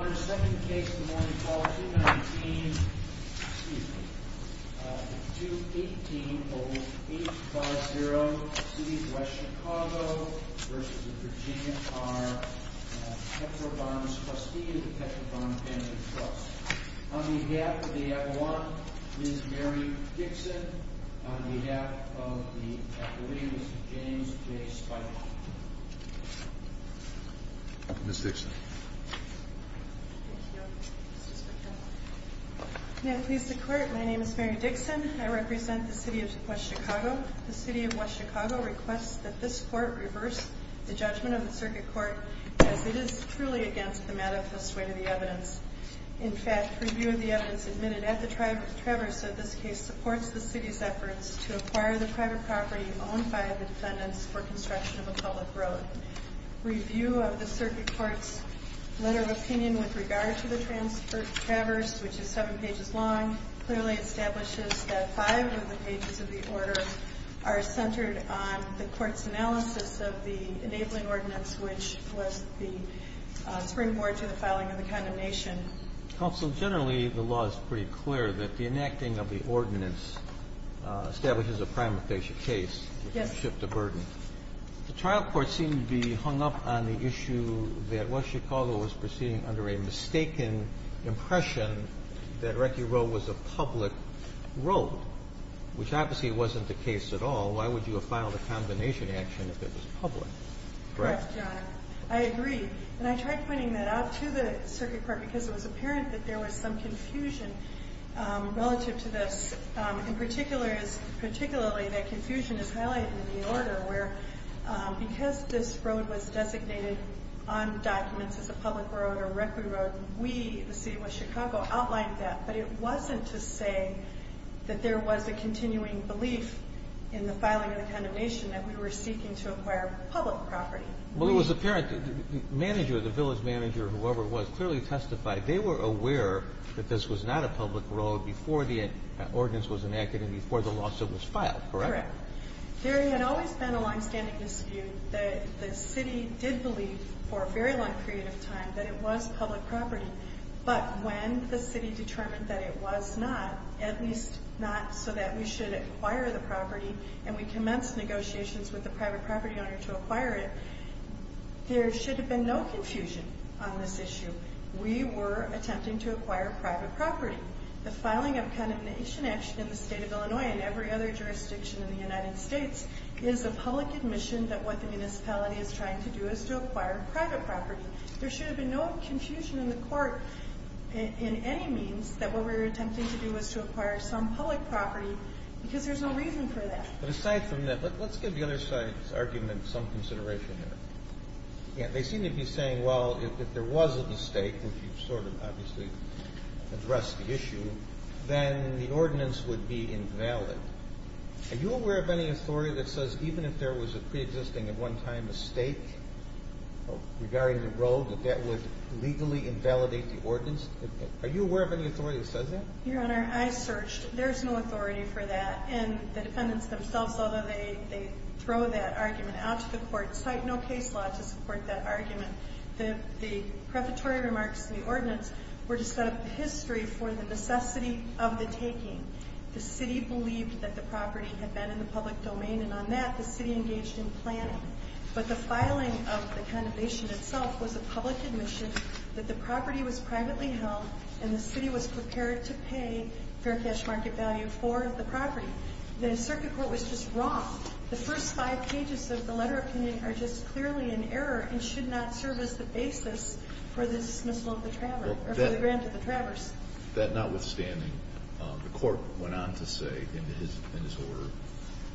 On the second case of the morning call, 2-19, excuse me, 2-18 over 8-5-0, City of West Chicago v. Virginia are Pietrobon's trustee of the Pietrobon Family Trust. On behalf of the Avalon, Ms. Mary Dixon. On behalf of the Avalon, Mr. James J. Spike. Ms. Dixon. May it please the Court, my name is Mary Dixon. I represent the City of West Chicago. The City of West Chicago requests that this Court reverse the judgment of the Circuit Court as it is truly against the manifest way to the evidence. In fact, review of the evidence admitted at the Traverse of this case supports the City's efforts to acquire the private property owned by the defendants for construction of a public road. Review of the Circuit Court's letter of opinion with regard to the Traverse, which is seven pages long, clearly establishes that five of the pages of the order are centered on the Court's analysis of the enabling ordinance, which was the springboard to the filing of the condemnation. Counsel, generally, the law is pretty clear that the enacting of the ordinance establishes a primifacia case. Yes. The trial court seemed to be hung up on the issue that West Chicago was proceeding under a mistaken impression that Reccy Road was a public road, which obviously wasn't the case at all. Why would you have filed a condemnation action if it was public? Correct. I agree. And I tried pointing that out to the Circuit Court because it was apparent that there was some confusion relative to this. In particular is particularly that confusion is highlighted in the order where because this road was designated on documents as a public road or Reccy Road, we, the City of West Chicago, outlined that. But it wasn't to say that there was a continuing belief in the filing of the condemnation that we were seeking to acquire public property. Well, it was apparent that the manager, the village manager, whoever it was, clearly testified. They were aware that this was not a public road before the ordinance was enacted and before the lawsuit was filed, correct? Correct. There had always been a longstanding dispute that the City did believe for a very long period of time that it was public property. But when the City determined that it was not, at least not so that we should acquire the property and we commenced negotiations with the private property owner to acquire it, there should have been no confusion on this issue. We were attempting to acquire private property. The filing of condemnation action in the State of Illinois and every other jurisdiction in the United States is a public admission that what the municipality is trying to do is to acquire private property. There should have been no confusion in the court in any means that what we were attempting to do was to acquire some public property because there's no reason for that. But aside from that, let's give the other side's argument some consideration here. They seem to be saying, well, if there was a mistake, which you've sort of obviously addressed the issue, then the ordinance would be invalid. Are you aware of any authority that says even if there was a preexisting at one time mistake regarding the road, that that would legally invalidate the ordinance? Are you aware of any authority that says that? Your Honor, I searched. There's no authority for that. And the defendants themselves, although they throw that argument out to the court, cite no case law to support that argument. The prefatory remarks in the ordinance were to set up the history for the necessity of the taking. The city believed that the property had been in the public domain, and on that, the city engaged in planning. But the filing of the condemnation itself was a public admission that the property was privately held and the city was prepared to pay fair cash market value for the property. The circuit court was just wrong. The first five pages of the letter of opinion are just clearly in error and should not serve as the basis for the dismissal of the traveler or for the grant of the travelers. That notwithstanding, the court went on to say in his order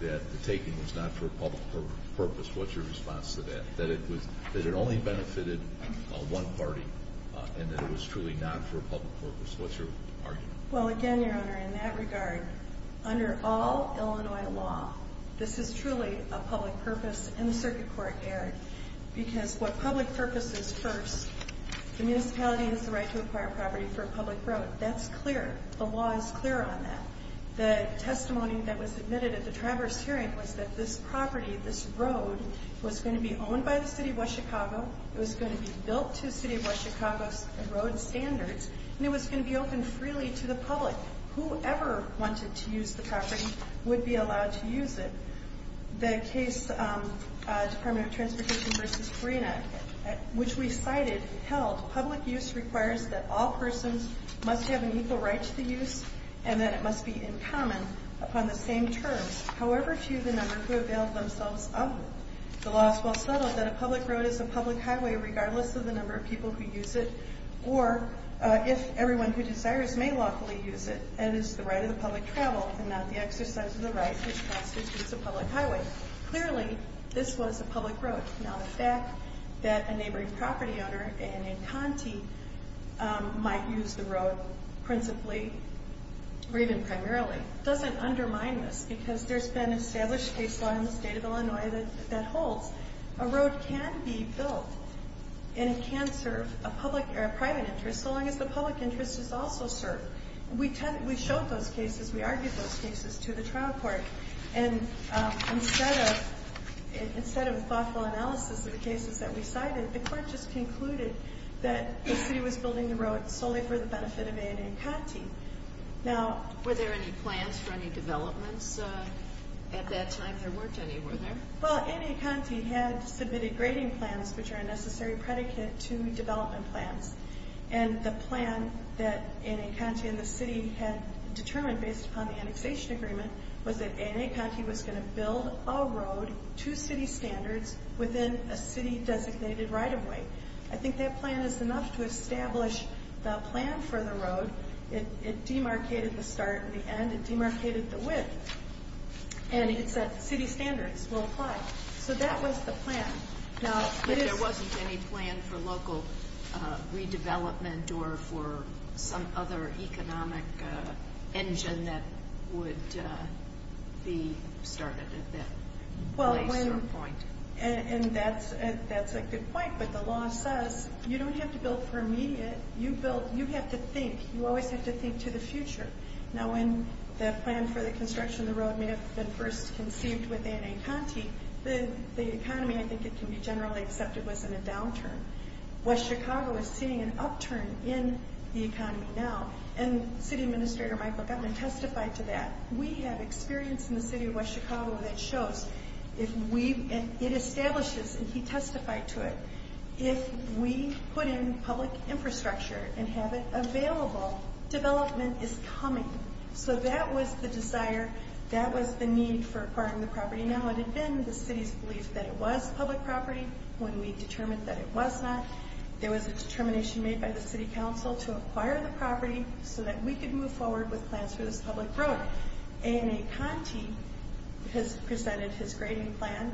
that the taking was not for a public purpose. What's your response to that? That it only benefited one party and that it was truly not for a public purpose. What's your argument? Well, again, Your Honor, in that regard, under all Illinois law, this is truly a public purpose, and the circuit court erred. Because what public purpose is first, the municipality has the right to acquire property for a public road. That's clear. The law is clear on that. The testimony that was admitted at the traveler's hearing was that this property, this road, was going to be owned by the city of West Chicago. It was going to be built to city of West Chicago's road standards, and it was going to be open freely to the public. Whoever wanted to use the property would be allowed to use it. The case Department of Transportation v. Carina, which we cited, held public use requires that all persons must have an equal right to the use and that it must be in common upon the same terms, however few the number who availed themselves of it. The law is well settled that a public road is a public highway regardless of the number of people who use it, or if everyone who desires may lawfully use it, and is the right of the public travel and not the exercise of the right which constitutes a public highway. Clearly, this was a public road. Now, the fact that a neighboring property owner, a man named Conti, might use the road principally or even primarily doesn't undermine this, because there's been established case law in the state of Illinois that holds. A road can be built, and it can serve a private interest so long as the public interest is also served. We showed those cases. We argued those cases to the trial court, and instead of a thoughtful analysis of the cases that we cited, the court just concluded that the city was building the road solely for the benefit of a man named Conti. Were there any plans for any developments at that time? There weren't any, were there? Well, A. and A. Conti had submitted grading plans, which are a necessary predicate to development plans. And the plan that A. and A. Conti and the city had determined based upon the annexation agreement was that A. and A. Conti was going to build a road to city standards within a city-designated right-of-way. I think that plan is enough to establish the plan for the road. It demarcated the start and the end. It demarcated the width. And it said city standards will apply. So that was the plan. But there wasn't any plan for local redevelopment or for some other economic engine that would be started at that place or point. And that's a good point, but the law says you don't have to build for immediate. You have to think. You always have to think to the future. Now, when that plan for the construction of the road may have been first conceived with A. and A. Conti, the economy, I think it can be generally accepted, was in a downturn. West Chicago is seeing an upturn in the economy now. And City Administrator Michael Guttman testified to that. We have experience in the city of West Chicago that shows if we, and it establishes, and he testified to it, if we put in public infrastructure and have it available, development is coming. So that was the desire. That was the need for acquiring the property. Now it had been the city's belief that it was public property when we determined that it was not. There was a determination made by the City Council to acquire the property so that we could move forward with plans for this public road. A. and A. Conti has presented his grading plan,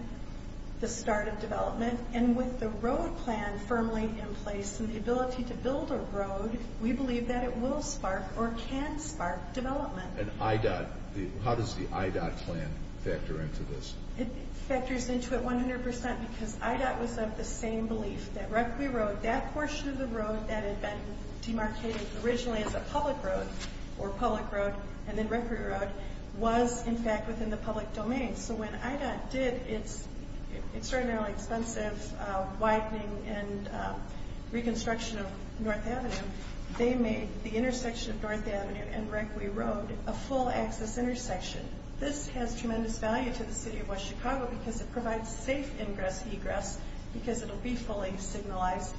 the start of development. And with the road plan firmly in place and the ability to build a road, we believe that it will spark or can spark development. And IDOT, how does the IDOT plan factor into this? It factors into it 100% because IDOT was of the same belief that Requi Road, that portion of the road that had been demarcated originally as a public road or public road and then Requi Road, was in fact within the public domain. So when IDOT did its extraordinarily expensive widening and reconstruction of North Avenue, they made the intersection of North Avenue and Requi Road a full access intersection. This has tremendous value to the City of West Chicago because it provides safe ingress-egress because it will be fully signalized.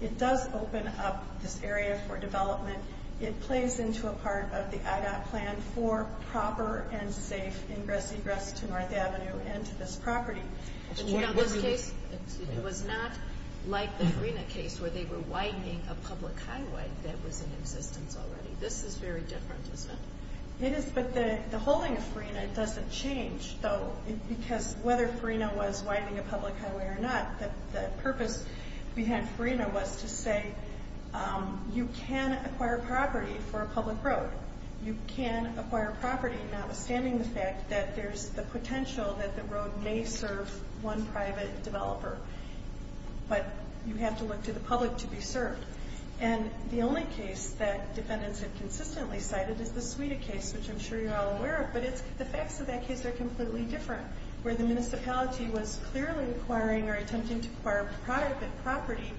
It does open up this area for development. It plays into a part of the IDOT plan for proper and safe ingress-egress to North Avenue and to this property. But you know, this case was not like the Farina case where they were widening a public highway that was in existence already. This is very different, isn't it? It is, but the holding of Farina doesn't change though because whether Farina was widening a public highway or not, the purpose behind Farina was to say you can acquire property for a public road. You can acquire property notwithstanding the fact that there's the potential that the road may serve one private developer. But you have to look to the public to be served. And the only case that defendants have consistently cited is the Suida case, which I'm sure you're all aware of, but it's the facts of that case are completely different, where the municipality was clearly acquiring or attempting to acquire private property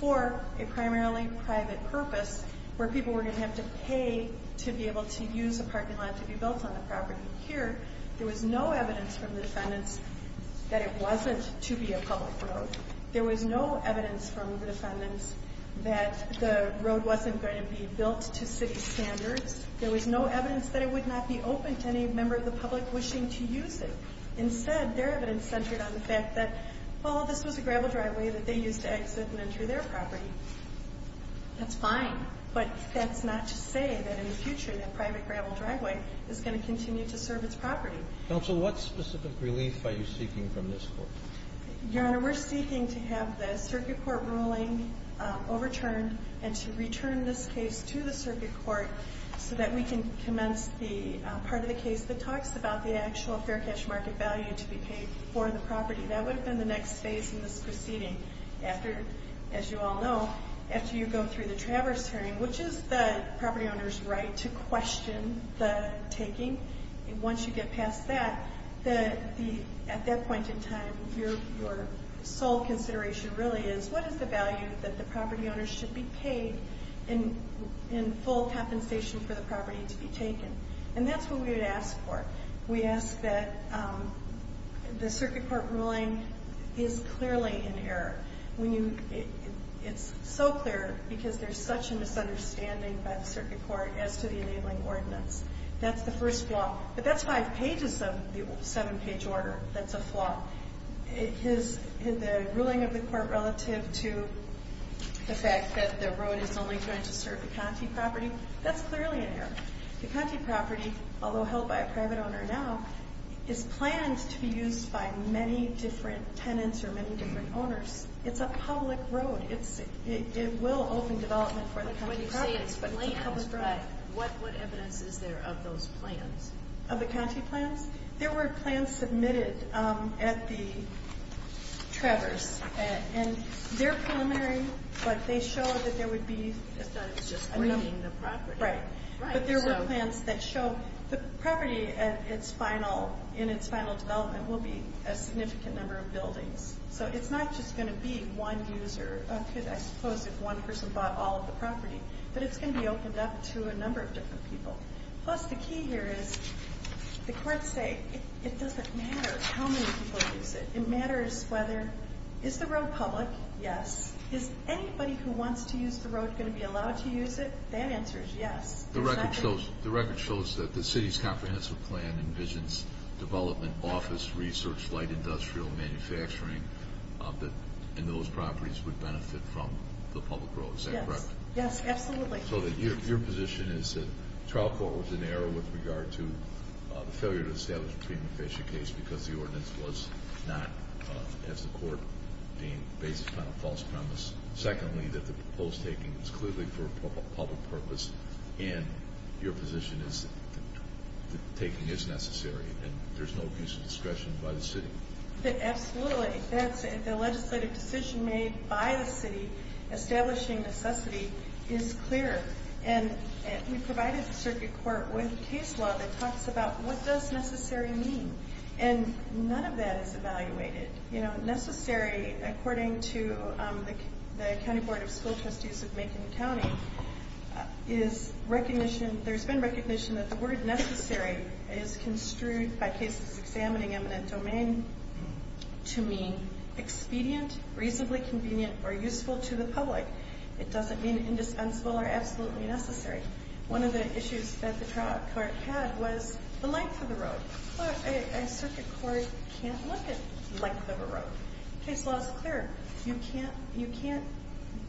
for a primarily private purpose where people were going to have to pay to be able to use a parking lot to be built on the property. Here, there was no evidence from the defendants that it wasn't to be a public road. There was no evidence from the defendants that the road wasn't going to be built to city standards. There was no evidence that it would not be open to any member of the public wishing to use it. Instead, their evidence centered on the fact that, well, this was a gravel driveway that they used to exit and enter their property. That's fine, but that's not to say that in the future that private gravel driveway is going to continue to serve its property. Counsel, what specific relief are you seeking from this Court? Your Honor, we're seeking to have the circuit court ruling overturned and to return this case to the circuit court so that we can commence the part of the case that talks about the actual fair cash market value to be paid for the property. That would have been the next phase in this proceeding after, as you all know, after you go through the traverse hearing, which is the property owner's right to question the taking. Once you get past that, at that point in time, your sole consideration really is, what is the value that the property owner should be paid in full compensation for the property to be taken? And that's what we would ask for. We ask that the circuit court ruling is clearly in error. It's so clear because there's such a misunderstanding by the circuit court as to the enabling ordinance. That's the first flaw. But that's five pages of the seven-page order. That's a flaw. The ruling of the Court relative to the fact that the road is only going to serve the Conte property, that's clearly in error. The Conte property, although held by a private owner now, is planned to be used by many different tenants or many different owners. It's a public road. It will open development for the Conte property. What evidence is there of those plans? Of the Conte plans? There were plans submitted at the traverse. And they're preliminary, but they show that there would be enough. It's not just bringing the property. Right. But there were plans that show the property in its final development will be a significant number of buildings. So it's not just going to be one user. I suppose if one person bought all of the property. But it's going to be opened up to a number of different people. Plus the key here is the courts say it doesn't matter how many people use it. It matters whether, is the road public? Yes. Is anybody who wants to use the road going to be allowed to use it? That answer is yes. The record shows that the city's comprehensive plan envisions development, office, research, light, industrial, manufacturing. And those properties would benefit from the public road. Is that correct? Yes. Yes, absolutely. So your position is that trial court was in error with regard to the failure to establish a prima facie case because the ordinance was not, as the court deemed, based upon a false premise. Secondly, that the proposed taking is clearly for a public purpose. And your position is that the taking is necessary and there's no abuse of discretion by the city. Absolutely. The legislative decision made by the city establishing necessity is clear. And we provided the circuit court with a case law that talks about what does necessary mean. And none of that is evaluated. Necessary, according to the County Board of School Trustees of Macon County, there's been recognition that the word necessary is construed by cases examining eminent domain to mean expedient, reasonably convenient, or useful to the public. It doesn't mean indispensable or absolutely necessary. One of the issues that the trial court had was the length of the road. A circuit court can't look at length of a road. Case law is clear. You can't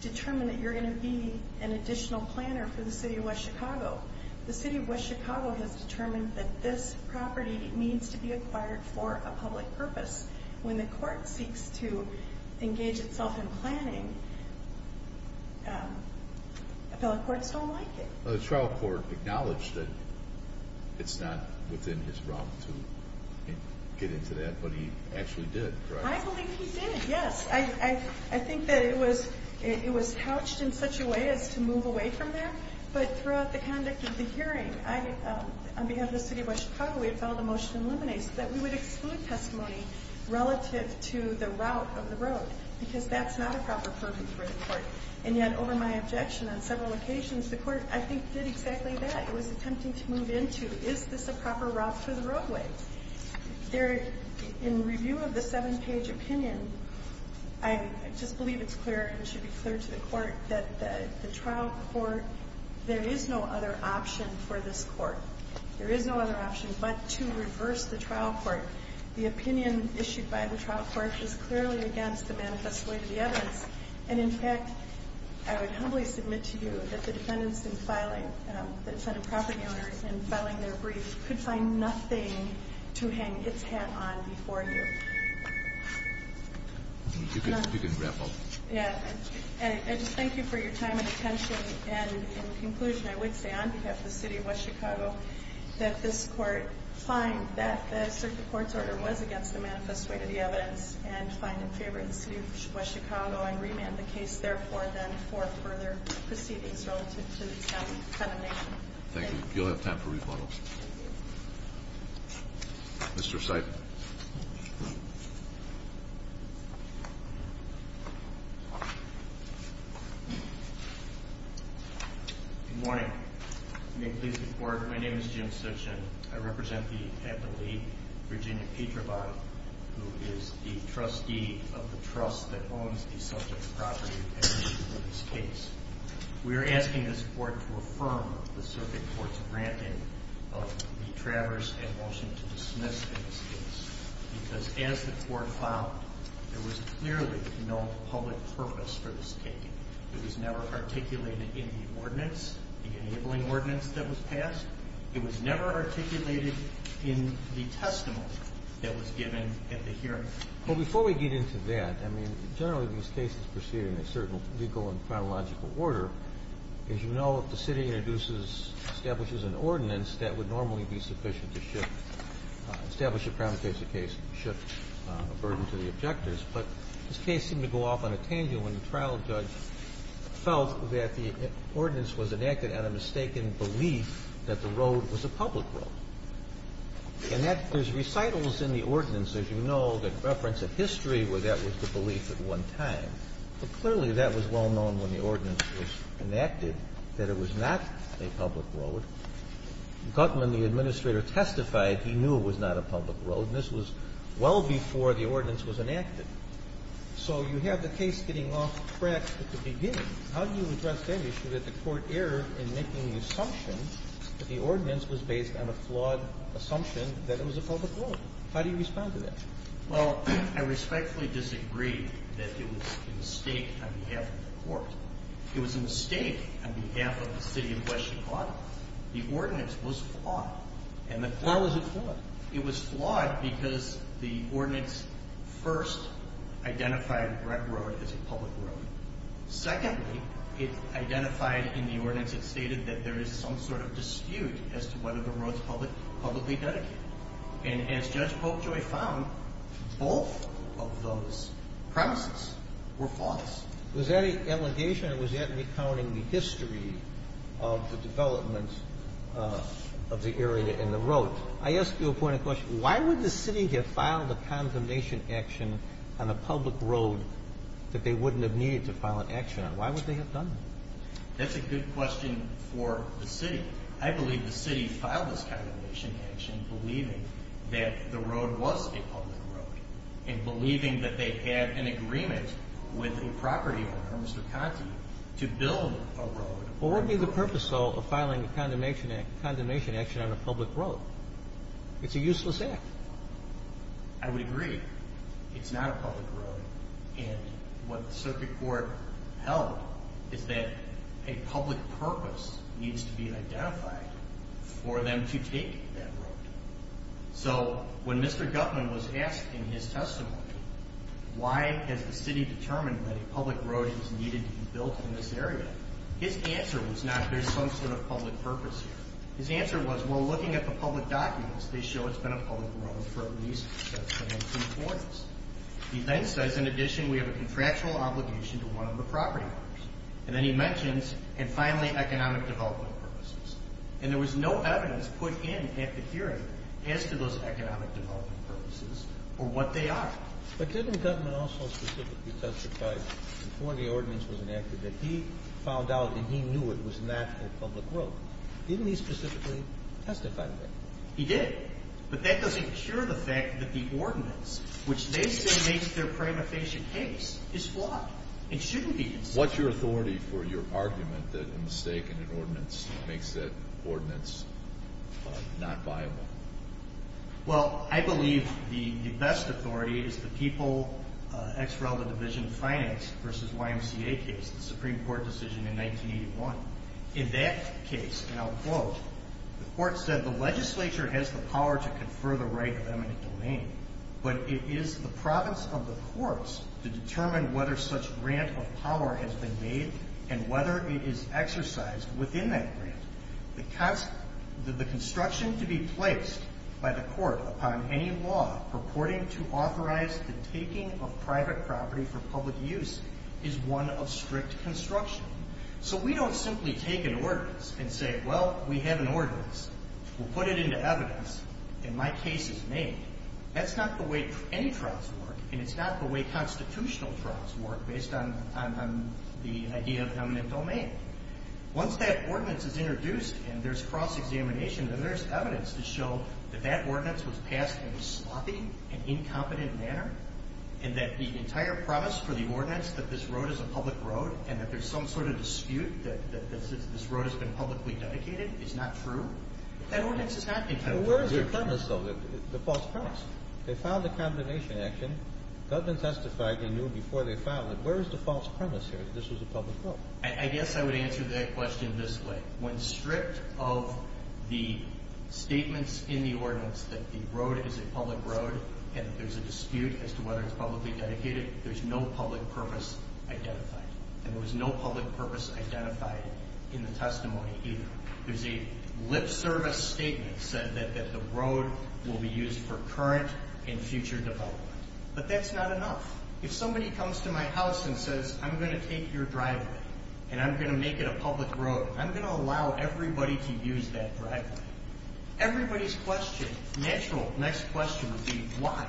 determine that you're going to be an additional planner for the city of West Chicago. The city of West Chicago has determined that this property needs to be acquired for a public purpose. When the court seeks to engage itself in planning, appellate courts don't like it. The trial court acknowledged that it's not within his realm to get into that, but he actually did, correct? I believe he did, yes. I think that it was couched in such a way as to move away from that. But throughout the conduct of the hearing, on behalf of the city of West Chicago, we had filed a motion in limine so that we would exclude testimony relative to the route of the road because that's not a proper purpose for the court. And yet, over my objection on several occasions, the court, I think, did exactly that. It was attempting to move into, is this a proper route for the roadway? In review of the seven-page opinion, I just believe it's clear and should be clear to the court that the trial court, there is no other option for this court. There is no other option but to reverse the trial court. The opinion issued by the trial court is clearly against the manifest way of the evidence. And, in fact, I would humbly submit to you that the defendants in filing, the defendant property owners in filing their brief could find nothing to hang its hat on before you. You can grapple. Yeah. And I just thank you for your time and attention. And in conclusion, I would say on behalf of the city of West Chicago, that this court finds that the circuit court's order was against the manifest way of the evidence and find it in favor of the city of West Chicago and remand the case, therefore, then for further proceedings relative to the determination. Thank you. You'll have time for rebuttals. Mr. Seidman. Good morning. May it please the court, my name is Jim Seidman. I represent the capital league, Virginia Petrovod, who is the trustee of the trust that owns the subject property in this case. We are asking this court to affirm the circuit court's granting of the traverse and motion to dismiss this case. Because as the court found, there was clearly no public purpose for this case. It was never articulated in the ordinance, the enabling ordinance that was passed. It was never articulated in the testimony that was given at the hearing. Well, before we get into that, I mean, generally, these cases proceed in a certain legal and chronological order. As you know, if the city introduces, establishes an ordinance, that would normally be sufficient to shift, establish a criminal case, shift a burden to the objectors. But this case seemed to go off on a tangent when the trial judge felt that the ordinance was enacted on a mistaken belief that the road was a public road. And there's recitals in the ordinance, as you know, that reference a history where that was the belief at one time. But clearly, that was well known when the ordinance was enacted, that it was not a public road. Gutman, the administrator, testified he knew it was not a public road, and this was well before the ordinance was enacted. So you have the case getting off track at the beginning. How do you address the issue that the court erred in making the assumption that the ordinance was based on a flawed assumption that it was a public road? How do you respond to that? Well, I respectfully disagree that it was a mistake on behalf of the court. It was a mistake on behalf of the city of West Chicago. The ordinance was flawed. How was it flawed? It was flawed because the ordinance first identified Breck Road as a public road. Secondly, it identified in the ordinance it stated that there is some sort of dispute as to whether the road is publicly dedicated. And as Judge Popejoy found, both of those premises were flawed. Was that an allegation or was that recounting the history of the development of the area and the road? I ask you a point of question. Why would the city have filed a condemnation action on a public road that they wouldn't have needed to file an action on? Why would they have done that? That's a good question for the city. I believe the city filed this condemnation action believing that the road was a public road and believing that they had an agreement with a property owner, Mr. Conti, to build a road. What would be the purpose, though, of filing a condemnation action on a public road? It's a useless act. I would agree. It's not a public road. And what the circuit court held is that a public purpose needs to be identified for them to take that road. So when Mr. Gutmann was asked in his testimony why has the city determined that a public road is needed to be built in this area, his answer was not there's some sort of public purpose here. His answer was, well, looking at the public documents, they show it's been a public road for at least 17 quarters. He then says, in addition, we have a contractual obligation to one of the property owners. And then he mentions, and finally, economic development purposes. And there was no evidence put in at the hearing as to those economic development purposes or what they are. But didn't Gutmann also specifically testify before the ordinance was enacted that he found out and he knew it was not a public road? Didn't he specifically testify to that? He did. But that doesn't cure the fact that the ordinance, which they say makes their prima facie case, is flawed. It shouldn't be. What's your authority for your argument that a mistake in an ordinance makes that ordinance not viable? Well, I believe the best authority is the People x Relative Division Finance versus YMCA case, the Supreme Court decision in 1981. In that case, and I'll quote, the court said the legislature has the power to confer the right of eminent domain, but it is the province of the courts to determine whether such grant of power has been made and whether it is exercised within that grant. The construction to be placed by the court upon any law purporting to authorize the taking of private property for public use is one of strict construction. So we don't simply take an ordinance and say, well, we have an ordinance. We'll put it into evidence, and my case is made. That's not the way any trials work, and it's not the way constitutional trials work based on the idea of eminent domain. Once that ordinance is introduced and there's cross-examination, then there's evidence to show that that ordinance was passed in a sloppy and incompetent manner and that the entire premise for the ordinance, that this road is a public road and that there's some sort of dispute, that this road has been publicly dedicated, is not true. That ordinance is not incompetent. But where is the premise, though, the false premise? They filed the condemnation action. The government testified they knew before they filed it. Where is the false premise here that this was a public road? I guess I would answer that question this way. When stripped of the statements in the ordinance that the road is a public road and there's a dispute as to whether it's publicly dedicated, there's no public purpose identified, and there was no public purpose identified in the testimony either. There's a lip service statement that said that the road will be used for current and future development, but that's not enough. If somebody comes to my house and says, I'm going to take your driveway and I'm going to make it a public road, I'm going to allow everybody to use that driveway, everybody's question, natural next question would be, why?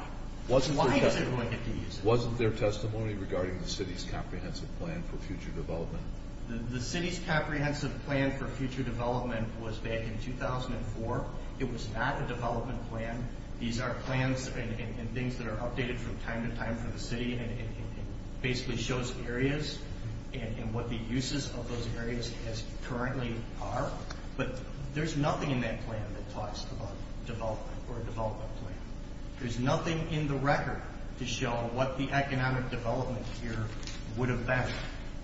Why is it going to be used? Wasn't there testimony regarding the city's comprehensive plan for future development? The city's comprehensive plan for future development was back in 2004. It was not a development plan. These are plans and things that are updated from time to time for the city, and it basically shows areas and what the uses of those areas currently are. But there's nothing in that plan that talks about development or a development plan. There's nothing in the record to show what the economic development here would have been.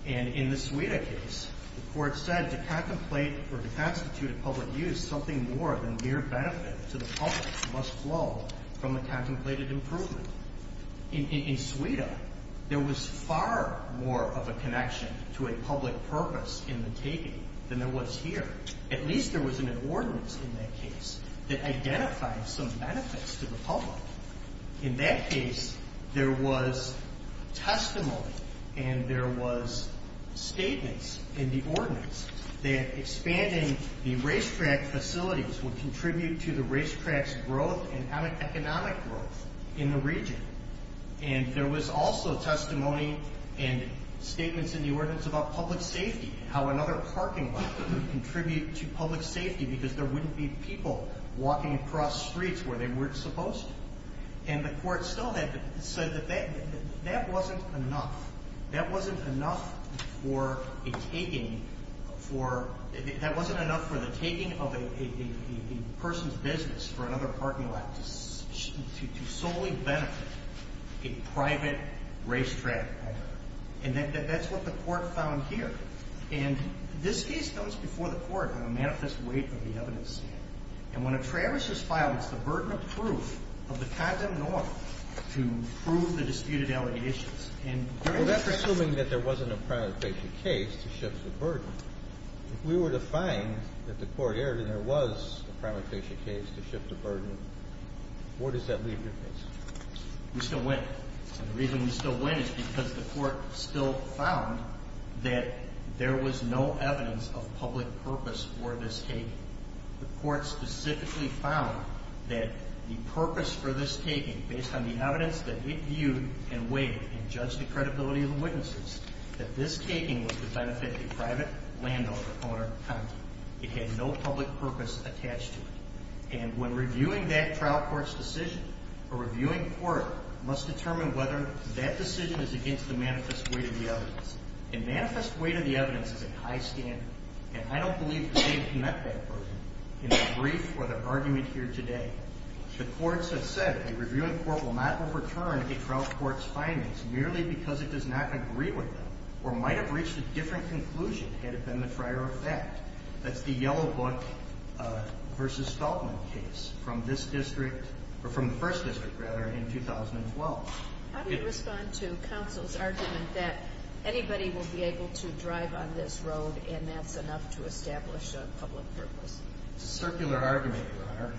And in the Suida case, the court said to contemplate or to constitute a public use, something more than mere benefit to the public must flow from the contemplated improvement. In Suida, there was far more of a connection to a public purpose in the taking than there was here. At least there was an ordinance in that case that identified some benefits to the public. In that case, there was testimony and there was statements in the ordinance that expanding the racetrack facilities would contribute to the racetrack's growth and economic growth in the region. And there was also testimony and statements in the ordinance about public safety and how another parking lot would contribute to public safety because there wouldn't be people walking across streets where they weren't supposed to. And the court still said that that wasn't enough. That wasn't enough for the taking of a person's business for another parking lot to solely benefit a private racetrack. And that's what the court found here. And this case comes before the court on a manifest weight of the evidence. And when a travesty is filed, it's the burden of proof of the condemned law to prove the disputed allegations. Well, that's assuming that there wasn't a primary case to shift the burden. If we were to find that the court erred and there was a primary case to shift the burden, where does that leave your case? We still win. And the reason we still win is because the court still found that there was no evidence of public purpose for this taking. The court specifically found that the purpose for this taking, based on the evidence that it viewed and weighed and judged the credibility of the witnesses, that this taking was to benefit a private landowner, owner, or company. It had no public purpose attached to it. And when reviewing that trial court's decision, a reviewing court must determine whether that decision is against the manifest weight of the evidence. A manifest weight of the evidence is a high standard, and I don't believe they've met that burden in the brief or the argument here today. The courts have said a reviewing court will not overturn a trial court's findings merely because it does not agree with them or might have reached a different conclusion had it been the prior effect. That's the Yellow Book v. Stoltman case from this district, or from the first district, rather, in 2012. How do you respond to counsel's argument that anybody will be able to drive on this road and that's enough to establish a public purpose? It's a circular argument, Your Honor.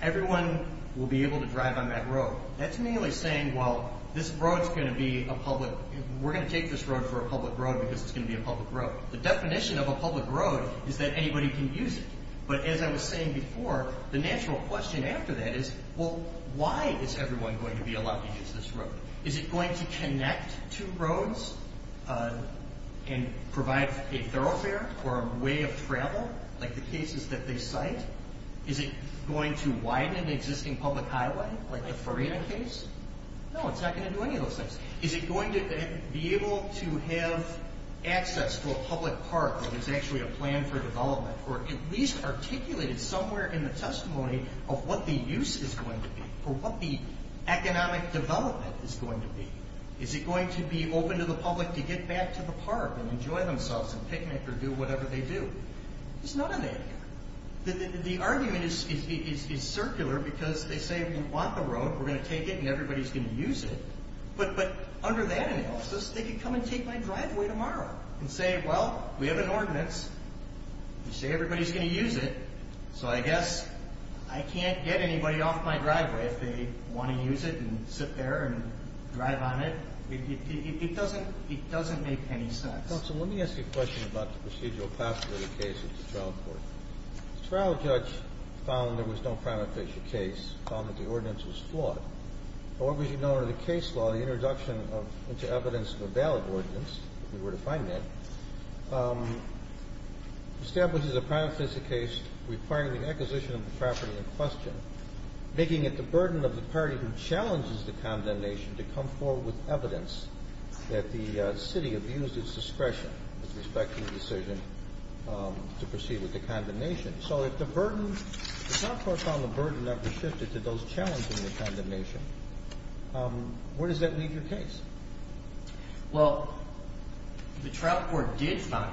Everyone will be able to drive on that road. That's merely saying, well, this road's going to be a public, we're going to take this road for a public road because it's going to be a public road. The definition of a public road is that anybody can use it. But as I was saying before, the natural question after that is, well, why is everyone going to be allowed to use this road? Is it going to connect two roads and provide a thoroughfare or a way of travel, like the cases that they cite? Is it going to widen an existing public highway, like the Farina case? No, it's not going to do any of those things. Is it going to be able to have access to a public park that is actually a plan for development, or at least articulated somewhere in the testimony of what the use is going to be, or what the economic development is going to be? Is it going to be open to the public to get back to the park and enjoy themselves and picnic or do whatever they do? There's none of that here. The argument is circular because they say, we want the road, we're going to take it, and everybody's going to use it. But under that analysis, they could come and take my driveway tomorrow and say, well, we have an ordinance, we say everybody's going to use it, so I guess I can't get anybody off my driveway if they want to use it and sit there and drive on it. It doesn't make any sense. Counsel, let me ask you a question about the procedural possibility case at the trial court. The trial judge found there was no prima facie case, found that the ordinance was flawed. However, as you know under the case law, the introduction into evidence of a valid ordinance, if you were to find that, establishes a prima facie case requiring the acquisition of the property in question, making it the burden of the party who challenges the condemnation to come forward with evidence that the city abused its discretion with respect to the decision to proceed with the condemnation. Okay, so if the burden, the trial court found the burden that was shifted to those challenging the condemnation, where does that leave your case? Well, the trial court did find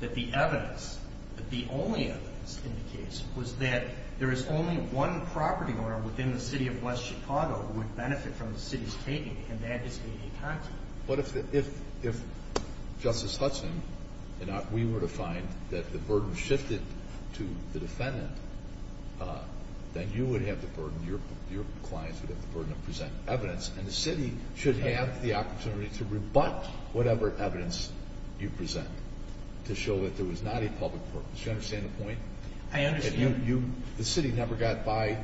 that the evidence, that the only evidence in the case, was that there is only one property owner within the city of West Chicago who would benefit from the city's taking, and that is A.D. Coxman. But if Justice Hudson and I, we were to find that the burden shifted to the defendant, then you would have the burden, your clients would have the burden of presenting evidence, and the city should have the opportunity to rebut whatever evidence you present to show that there was not a public purpose. Do you understand the point? I understand. The city never got by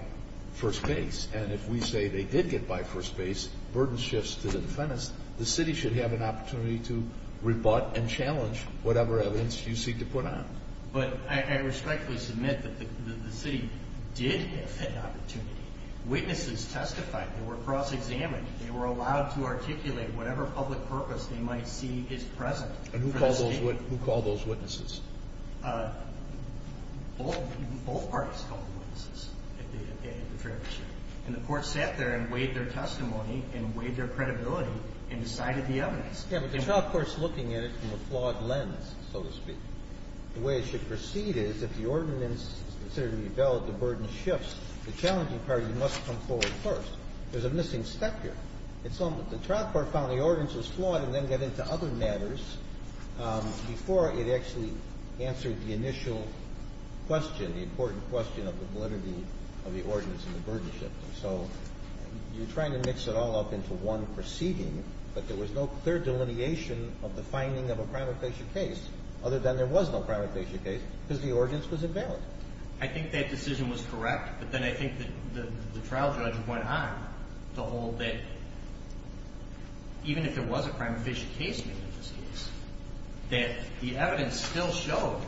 first base, and if we say they did get by first base, burden shifts to the defendants, the city should have an opportunity to rebut and challenge whatever evidence you seek to put on. But I respectfully submit that the city did have that opportunity. Witnesses testified. They were cross-examined. They were allowed to articulate whatever public purpose they might see is present. And who called those witnesses? Both parties called the witnesses at the fair discussion. And the court sat there and weighed their testimony and weighed their credibility and decided the evidence. Yeah, but the trial court's looking at it from a flawed lens, so to speak. The way it should proceed is if the ordinance is considered to be valid, the burden shifts. The challenging party must come forward first. There's a missing step here. The trial court found the ordinance was flawed and then got into other matters before it actually answered the initial question, the important question of the validity of the ordinance and the burden shift. So you're trying to mix it all up into one proceeding, but there was no clear delineation of the finding of a crime-offensive case, other than there was no crime-offensive case because the ordinance was invalid. I think that decision was correct, but then I think that the trial judge went on to hold that even if there was a crime-offensive case made in this case, that the evidence still showed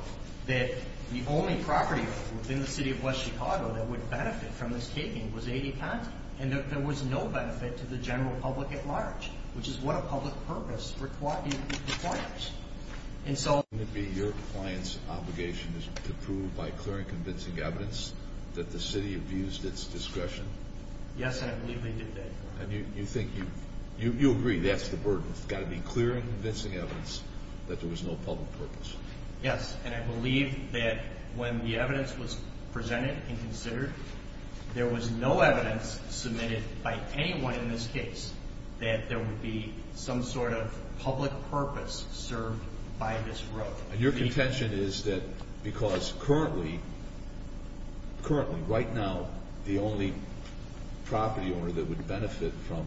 that the only property within the city of West Chicago that would benefit from this taping was A.D. Conti, and that there was no benefit to the general public at large, which is what a public purpose requires. And so wouldn't it be your client's obligation to prove by clear and convincing evidence that the city abused its discretion? Yes, and I believe they did that. And you think you agree that's the burden. It's got to be clear and convincing evidence that there was no public purpose. Yes, and I believe that when the evidence was presented and considered, there was no evidence submitted by anyone in this case that there would be some sort of public purpose served by this road. And your contention is that because currently, right now, the only property owner that would benefit from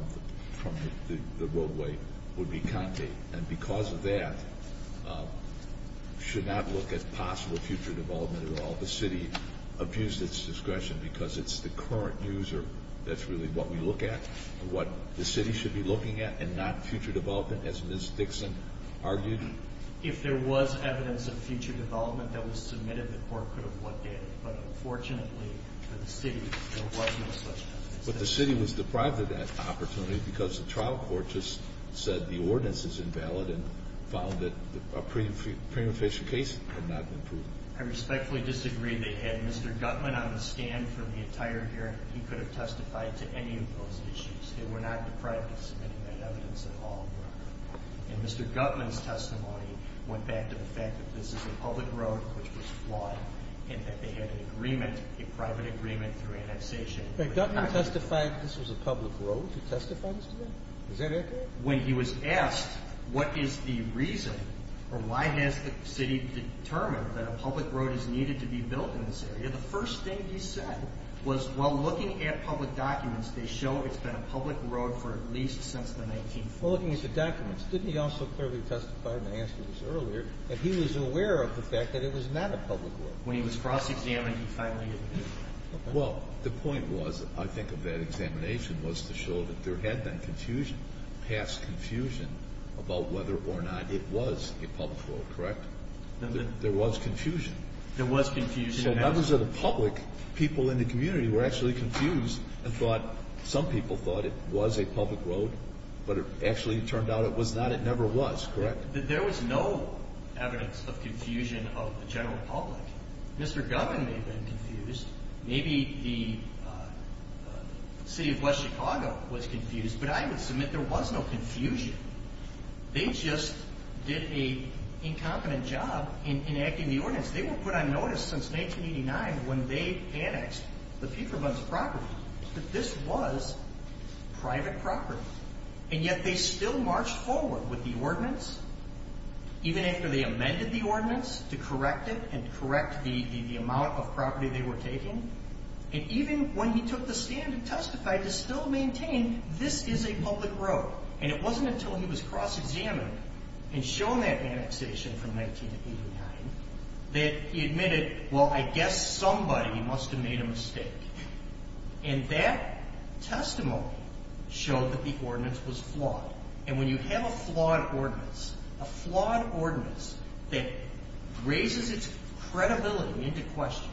the roadway would be Conti, and because of that, should not look at possible future development at all. The city abused its discretion because it's the current news, or that's really what we look at, what the city should be looking at, and not future development, as Ms. Dixon argued. If there was evidence of future development that was submitted, the court could have looked at it, but unfortunately for the city, there was no such evidence. But the city was deprived of that opportunity because the trial court just said the ordinance is invalid and found that a prima facie case had not been proven. I respectfully disagree. They had Mr. Gutman on the stand for the entire hearing. He could have testified to any of those issues. They were not deprived of submitting that evidence at all. And Mr. Gutman's testimony went back to the fact that this is a public road, which was flawed, and that they had an agreement, a private agreement through annexation. But Gutman testified this was a public road. He testified to that? Is that accurate? When he was asked what is the reason or why has the city determined that a public road is needed to be built in this area, the first thing he said was while looking at public documents, they show it's been a public road for at least since the 1940s. Well, looking at the documents, didn't he also clearly testify, and I answered this earlier, that he was aware of the fact that it was not a public road? When he was cross-examined, he finally admitted that. Well, the point was, I think, of that examination was to show that there had been confusion, past confusion, about whether or not it was a public road, correct? There was confusion. There was confusion. So members of the public, people in the community, were actually confused and thought some people thought it was a public road, but it actually turned out it was not. It never was, correct? There was no evidence of confusion of the general public. Mr. Gumbin may have been confused. Maybe the city of West Chicago was confused, but I would submit there was no confusion. They just did an incompetent job in enacting the ordinance. They were put on notice since 1989 when they annexed the Pfeiffer Bunce property that this was private property, and yet they still marched forward with the ordinance, even after they amended the ordinance to correct it and correct the amount of property they were taking, and even when he took the stand and testified to still maintain this is a public road. And it wasn't until he was cross-examined and shown that annexation from 1989 that he admitted, well, I guess somebody must have made a mistake. And that testimony showed that the ordinance was flawed. And when you have a flawed ordinance, a flawed ordinance that raises its credibility into question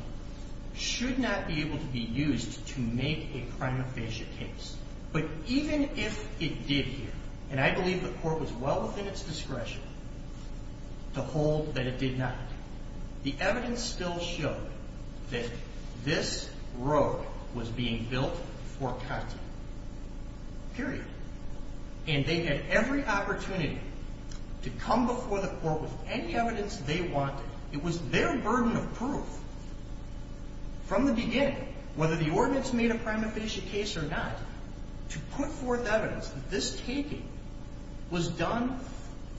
should not be able to be used to make a prima facie case. But even if it did here, and I believe the court was well within its discretion to hold that it did not, the evidence still showed that this road was being built for cutting, period. And they had every opportunity to come before the court with any evidence they wanted. It was their burden of proof from the beginning, whether the ordinance made a prima facie case or not, to put forth evidence that this taking was done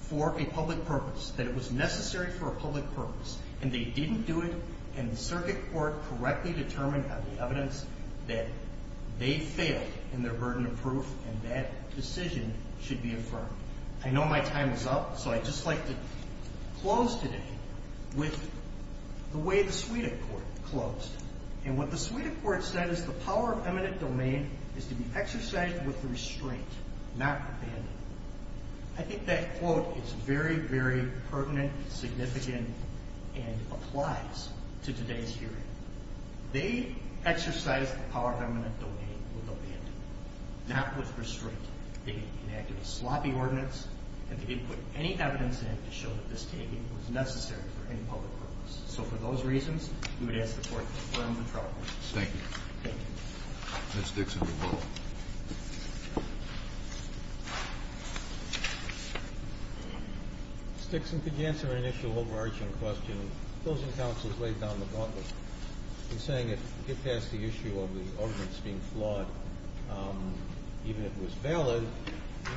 for a public purpose, that it was necessary for a public purpose. And they didn't do it, and the circuit court correctly determined on the evidence that they failed in their burden of proof and that decision should be affirmed. I know my time is up, so I'd just like to close today with the way the Suida court closed. And what the Suida court said is the power of eminent domain is to be exercised with restraint, not abandonment. I think that quote is very, very pertinent, significant, and applies to today's hearing. They exercised the power of eminent domain with abandonment, not with restraint. They enacted a sloppy ordinance, and they didn't put any evidence in it to show that this taking was necessary for any public purpose. So for those reasons, we would ask the court to affirm the trial. Thank you. Thank you. Ms. Dixon, you're welcome. Ms. Dixon, could you answer an initial overarching question? Those encounters laid down the bundle in saying if that's the issue of the ordinance being flawed, even if it was valid,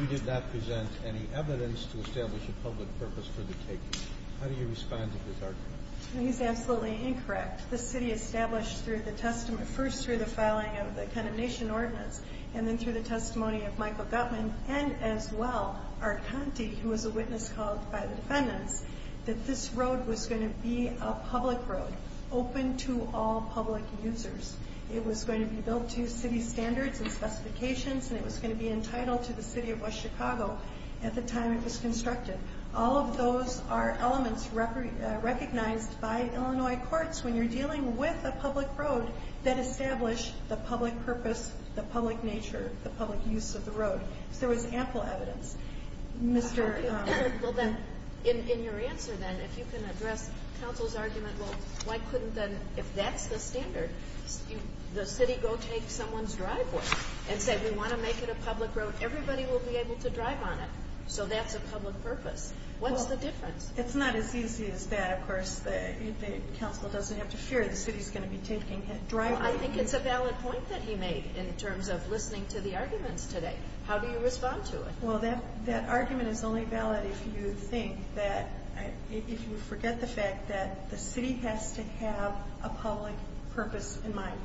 you did not present any evidence to establish a public purpose for the taking. How do you respond to this argument? I think it's absolutely incorrect. The city established through the testament, first through the filing of the condemnation ordinance, and then through the testimony of Michael Gutmann, and as well Art Conte, who was a witness called by the defendants, that this road was going to be a public road, open to all public users. It was going to be built to city standards and specifications, and it was going to be entitled to the city of West Chicago at the time it was constructed. All of those are elements recognized by Illinois courts when you're dealing with a public road that establish the public purpose, the public nature, the public use of the road. So there was ample evidence. Well, then, in your answer, then, if you can address counsel's argument, well, why couldn't then, if that's the standard, the city go take someone's driveway and say we want to make it a public road. Everybody will be able to drive on it. So that's a public purpose. What's the difference? It's not as easy as that, of course. The council doesn't have to fear the city's going to be taking a driveway. I think it's a valid point that he made in terms of listening to the arguments today. How do you respond to it? Well, that argument is only valid if you think that if you forget the fact that the city has to have a public purpose in mind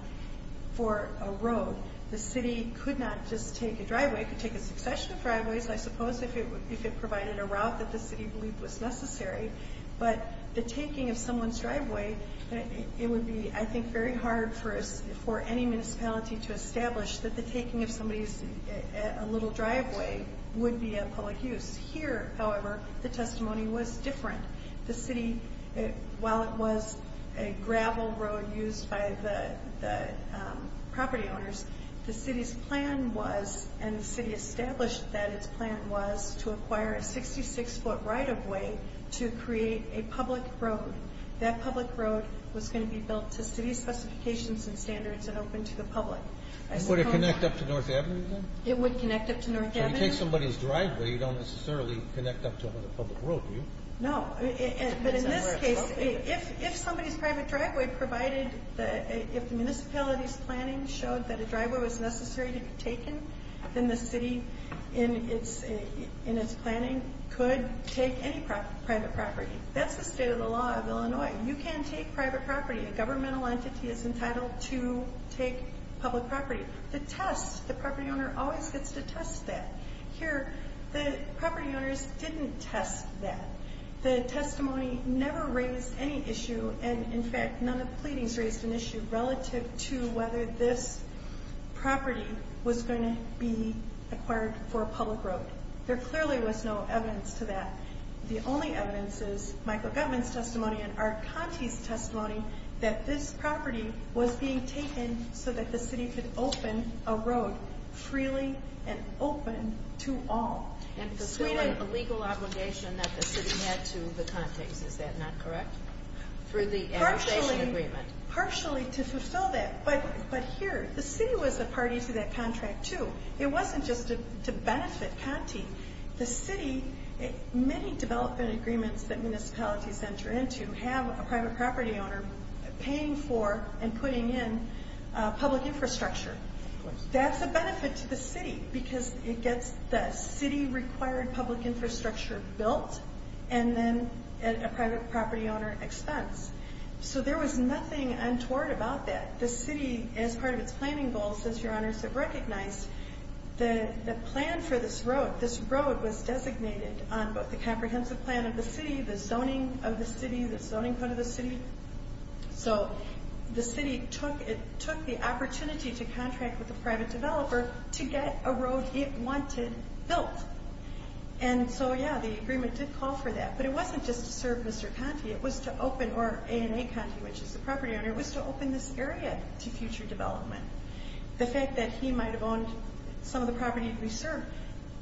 for a road. The city could not just take a driveway. It could take a succession of driveways, I suppose, if it provided a route that the city believed was necessary. But the taking of someone's driveway, it would be, I think, very hard for any municipality to establish that the taking of somebody's driveway would be a public use. Here, however, the testimony was different. The city, while it was a gravel road used by the property owners, the city's plan was, and the city established that its plan was, to acquire a 66-foot right-of-way to create a public road. That public road was going to be built to city specifications and standards and open to the public. Would it connect up to North Avenue then? It would connect up to North Avenue. When you take somebody's driveway, you don't necessarily connect up to them with a public road, do you? No. But in this case, if somebody's private driveway provided, if the municipality's planning showed that a driveway was necessary to be taken, then the city, in its planning, could take any private property. That's the state of the law of Illinois. You can take private property. A governmental entity is entitled to take public property. The test, the property owner always gets to test that. Here, the property owners didn't test that. The testimony never raised any issue, and, in fact, none of the pleadings raised an issue relative to whether this property was going to be acquired for a public road. There clearly was no evidence to that. The only evidence is Michael Gutmann's testimony and Archonti's testimony that this property was being taken so that the city could open a road freely and open to all. And fulfilling a legal obligation that the city had to the Contes. Is that not correct? Partially to fulfill that. But here, the city was a party to that contract, too. It wasn't just to benefit Conte. The city, many development agreements that municipalities enter into, you have a private property owner paying for and putting in public infrastructure. That's a benefit to the city because it gets the city-required public infrastructure built and then at a private property owner expense. So there was nothing untoward about that. The city, as part of its planning goals, as your honors have recognized, the plan for this road, this road was designated on both the comprehensive plan of the city, the zoning of the city, the zoning code of the city. So the city took the opportunity to contract with a private developer to get a road it wanted built. And so, yeah, the agreement did call for that. But it wasn't just to serve Mr. Conte. It was to open, or A&A Conte, which is the property owner, was to open this area to future development. The fact that he might have owned some of the property we served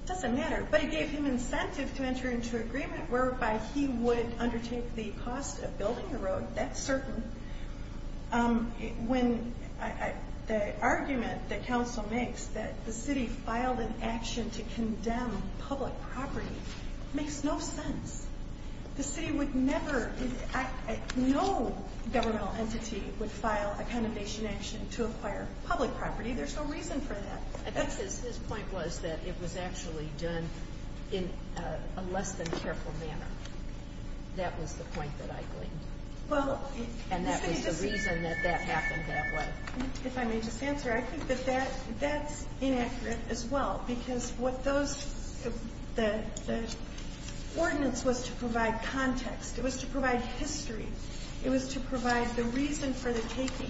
doesn't matter. But it gave him incentive to enter into an agreement whereby he would undertake the cost of building the road. That's certain. When the argument that council makes that the city filed an action to condemn public property makes no sense. The city would never, no governmental entity would file a condemnation action to acquire public property. There's no reason for that. I think his point was that it was actually done in a less than careful manner. That was the point that I claimed. And that was the reason that that happened that way. If I may just answer, I think that that's inaccurate as well. Because what those, the ordinance was to provide context. It was to provide history. It was to provide the reason for the taking.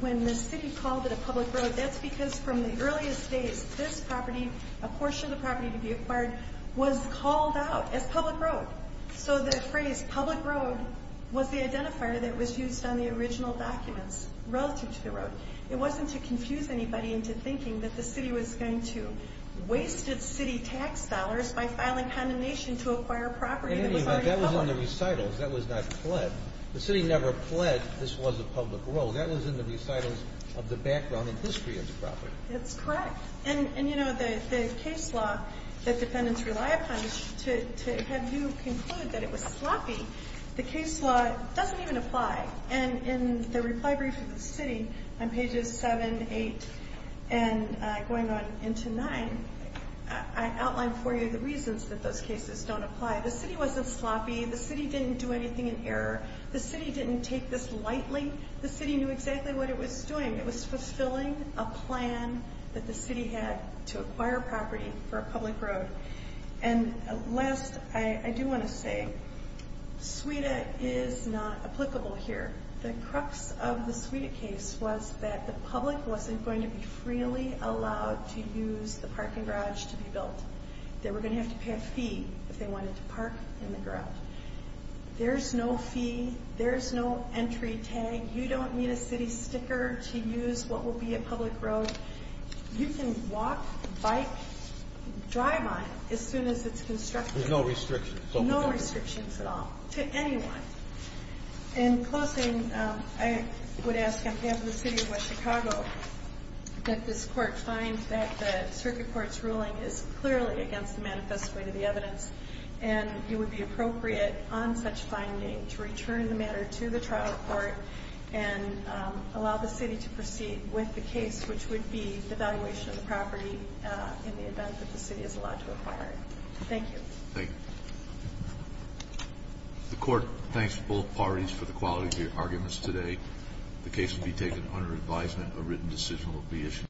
When the city called it a public road, that's because from the earliest days, this property, a portion of the property to be acquired, was called out as public road. So the phrase public road was the identifier that was used on the original documents relative to the road. It wasn't to confuse anybody into thinking that the city was going to waste its city tax dollars by filing condemnation to acquire property that was already public. That was in the recitals. That was not pled. The city never pled this was a public road. That was in the recitals of the background and history of the property. That's correct. And, you know, the case law that defendants rely upon to have you conclude that it was sloppy, the case law doesn't even apply. And in the reply brief of the city on pages 7, 8, and going on into 9, I outlined for you the reasons that those cases don't apply. The city wasn't sloppy. The city didn't do anything in error. The city didn't take this lightly. The city knew exactly what it was doing. It was fulfilling a plan that the city had to acquire property for a public road. And last, I do want to say, SWETA is not applicable here. The crux of the SWETA case was that the public wasn't going to be freely allowed to use the parking garage to be built. They were going to have to pay a fee if they wanted to park in the garage. There's no fee. There's no entry tag. You don't need a city sticker to use what will be a public road. You can walk, bike, drive on it as soon as it's constructed. There's no restrictions. No restrictions at all to anyone. In closing, I would ask on behalf of the city of West Chicago that this court find that the circuit court's ruling is clearly against the manifesto of the evidence and it would be appropriate on such finding to return the matter to the trial court and allow the city to proceed with the case, which would be the valuation of the property in the event that the city is allowed to acquire it. Thank you. Thank you. The court thanks both parties for the quality of your arguments today. The case will be taken under advisement. A written decision will be issued.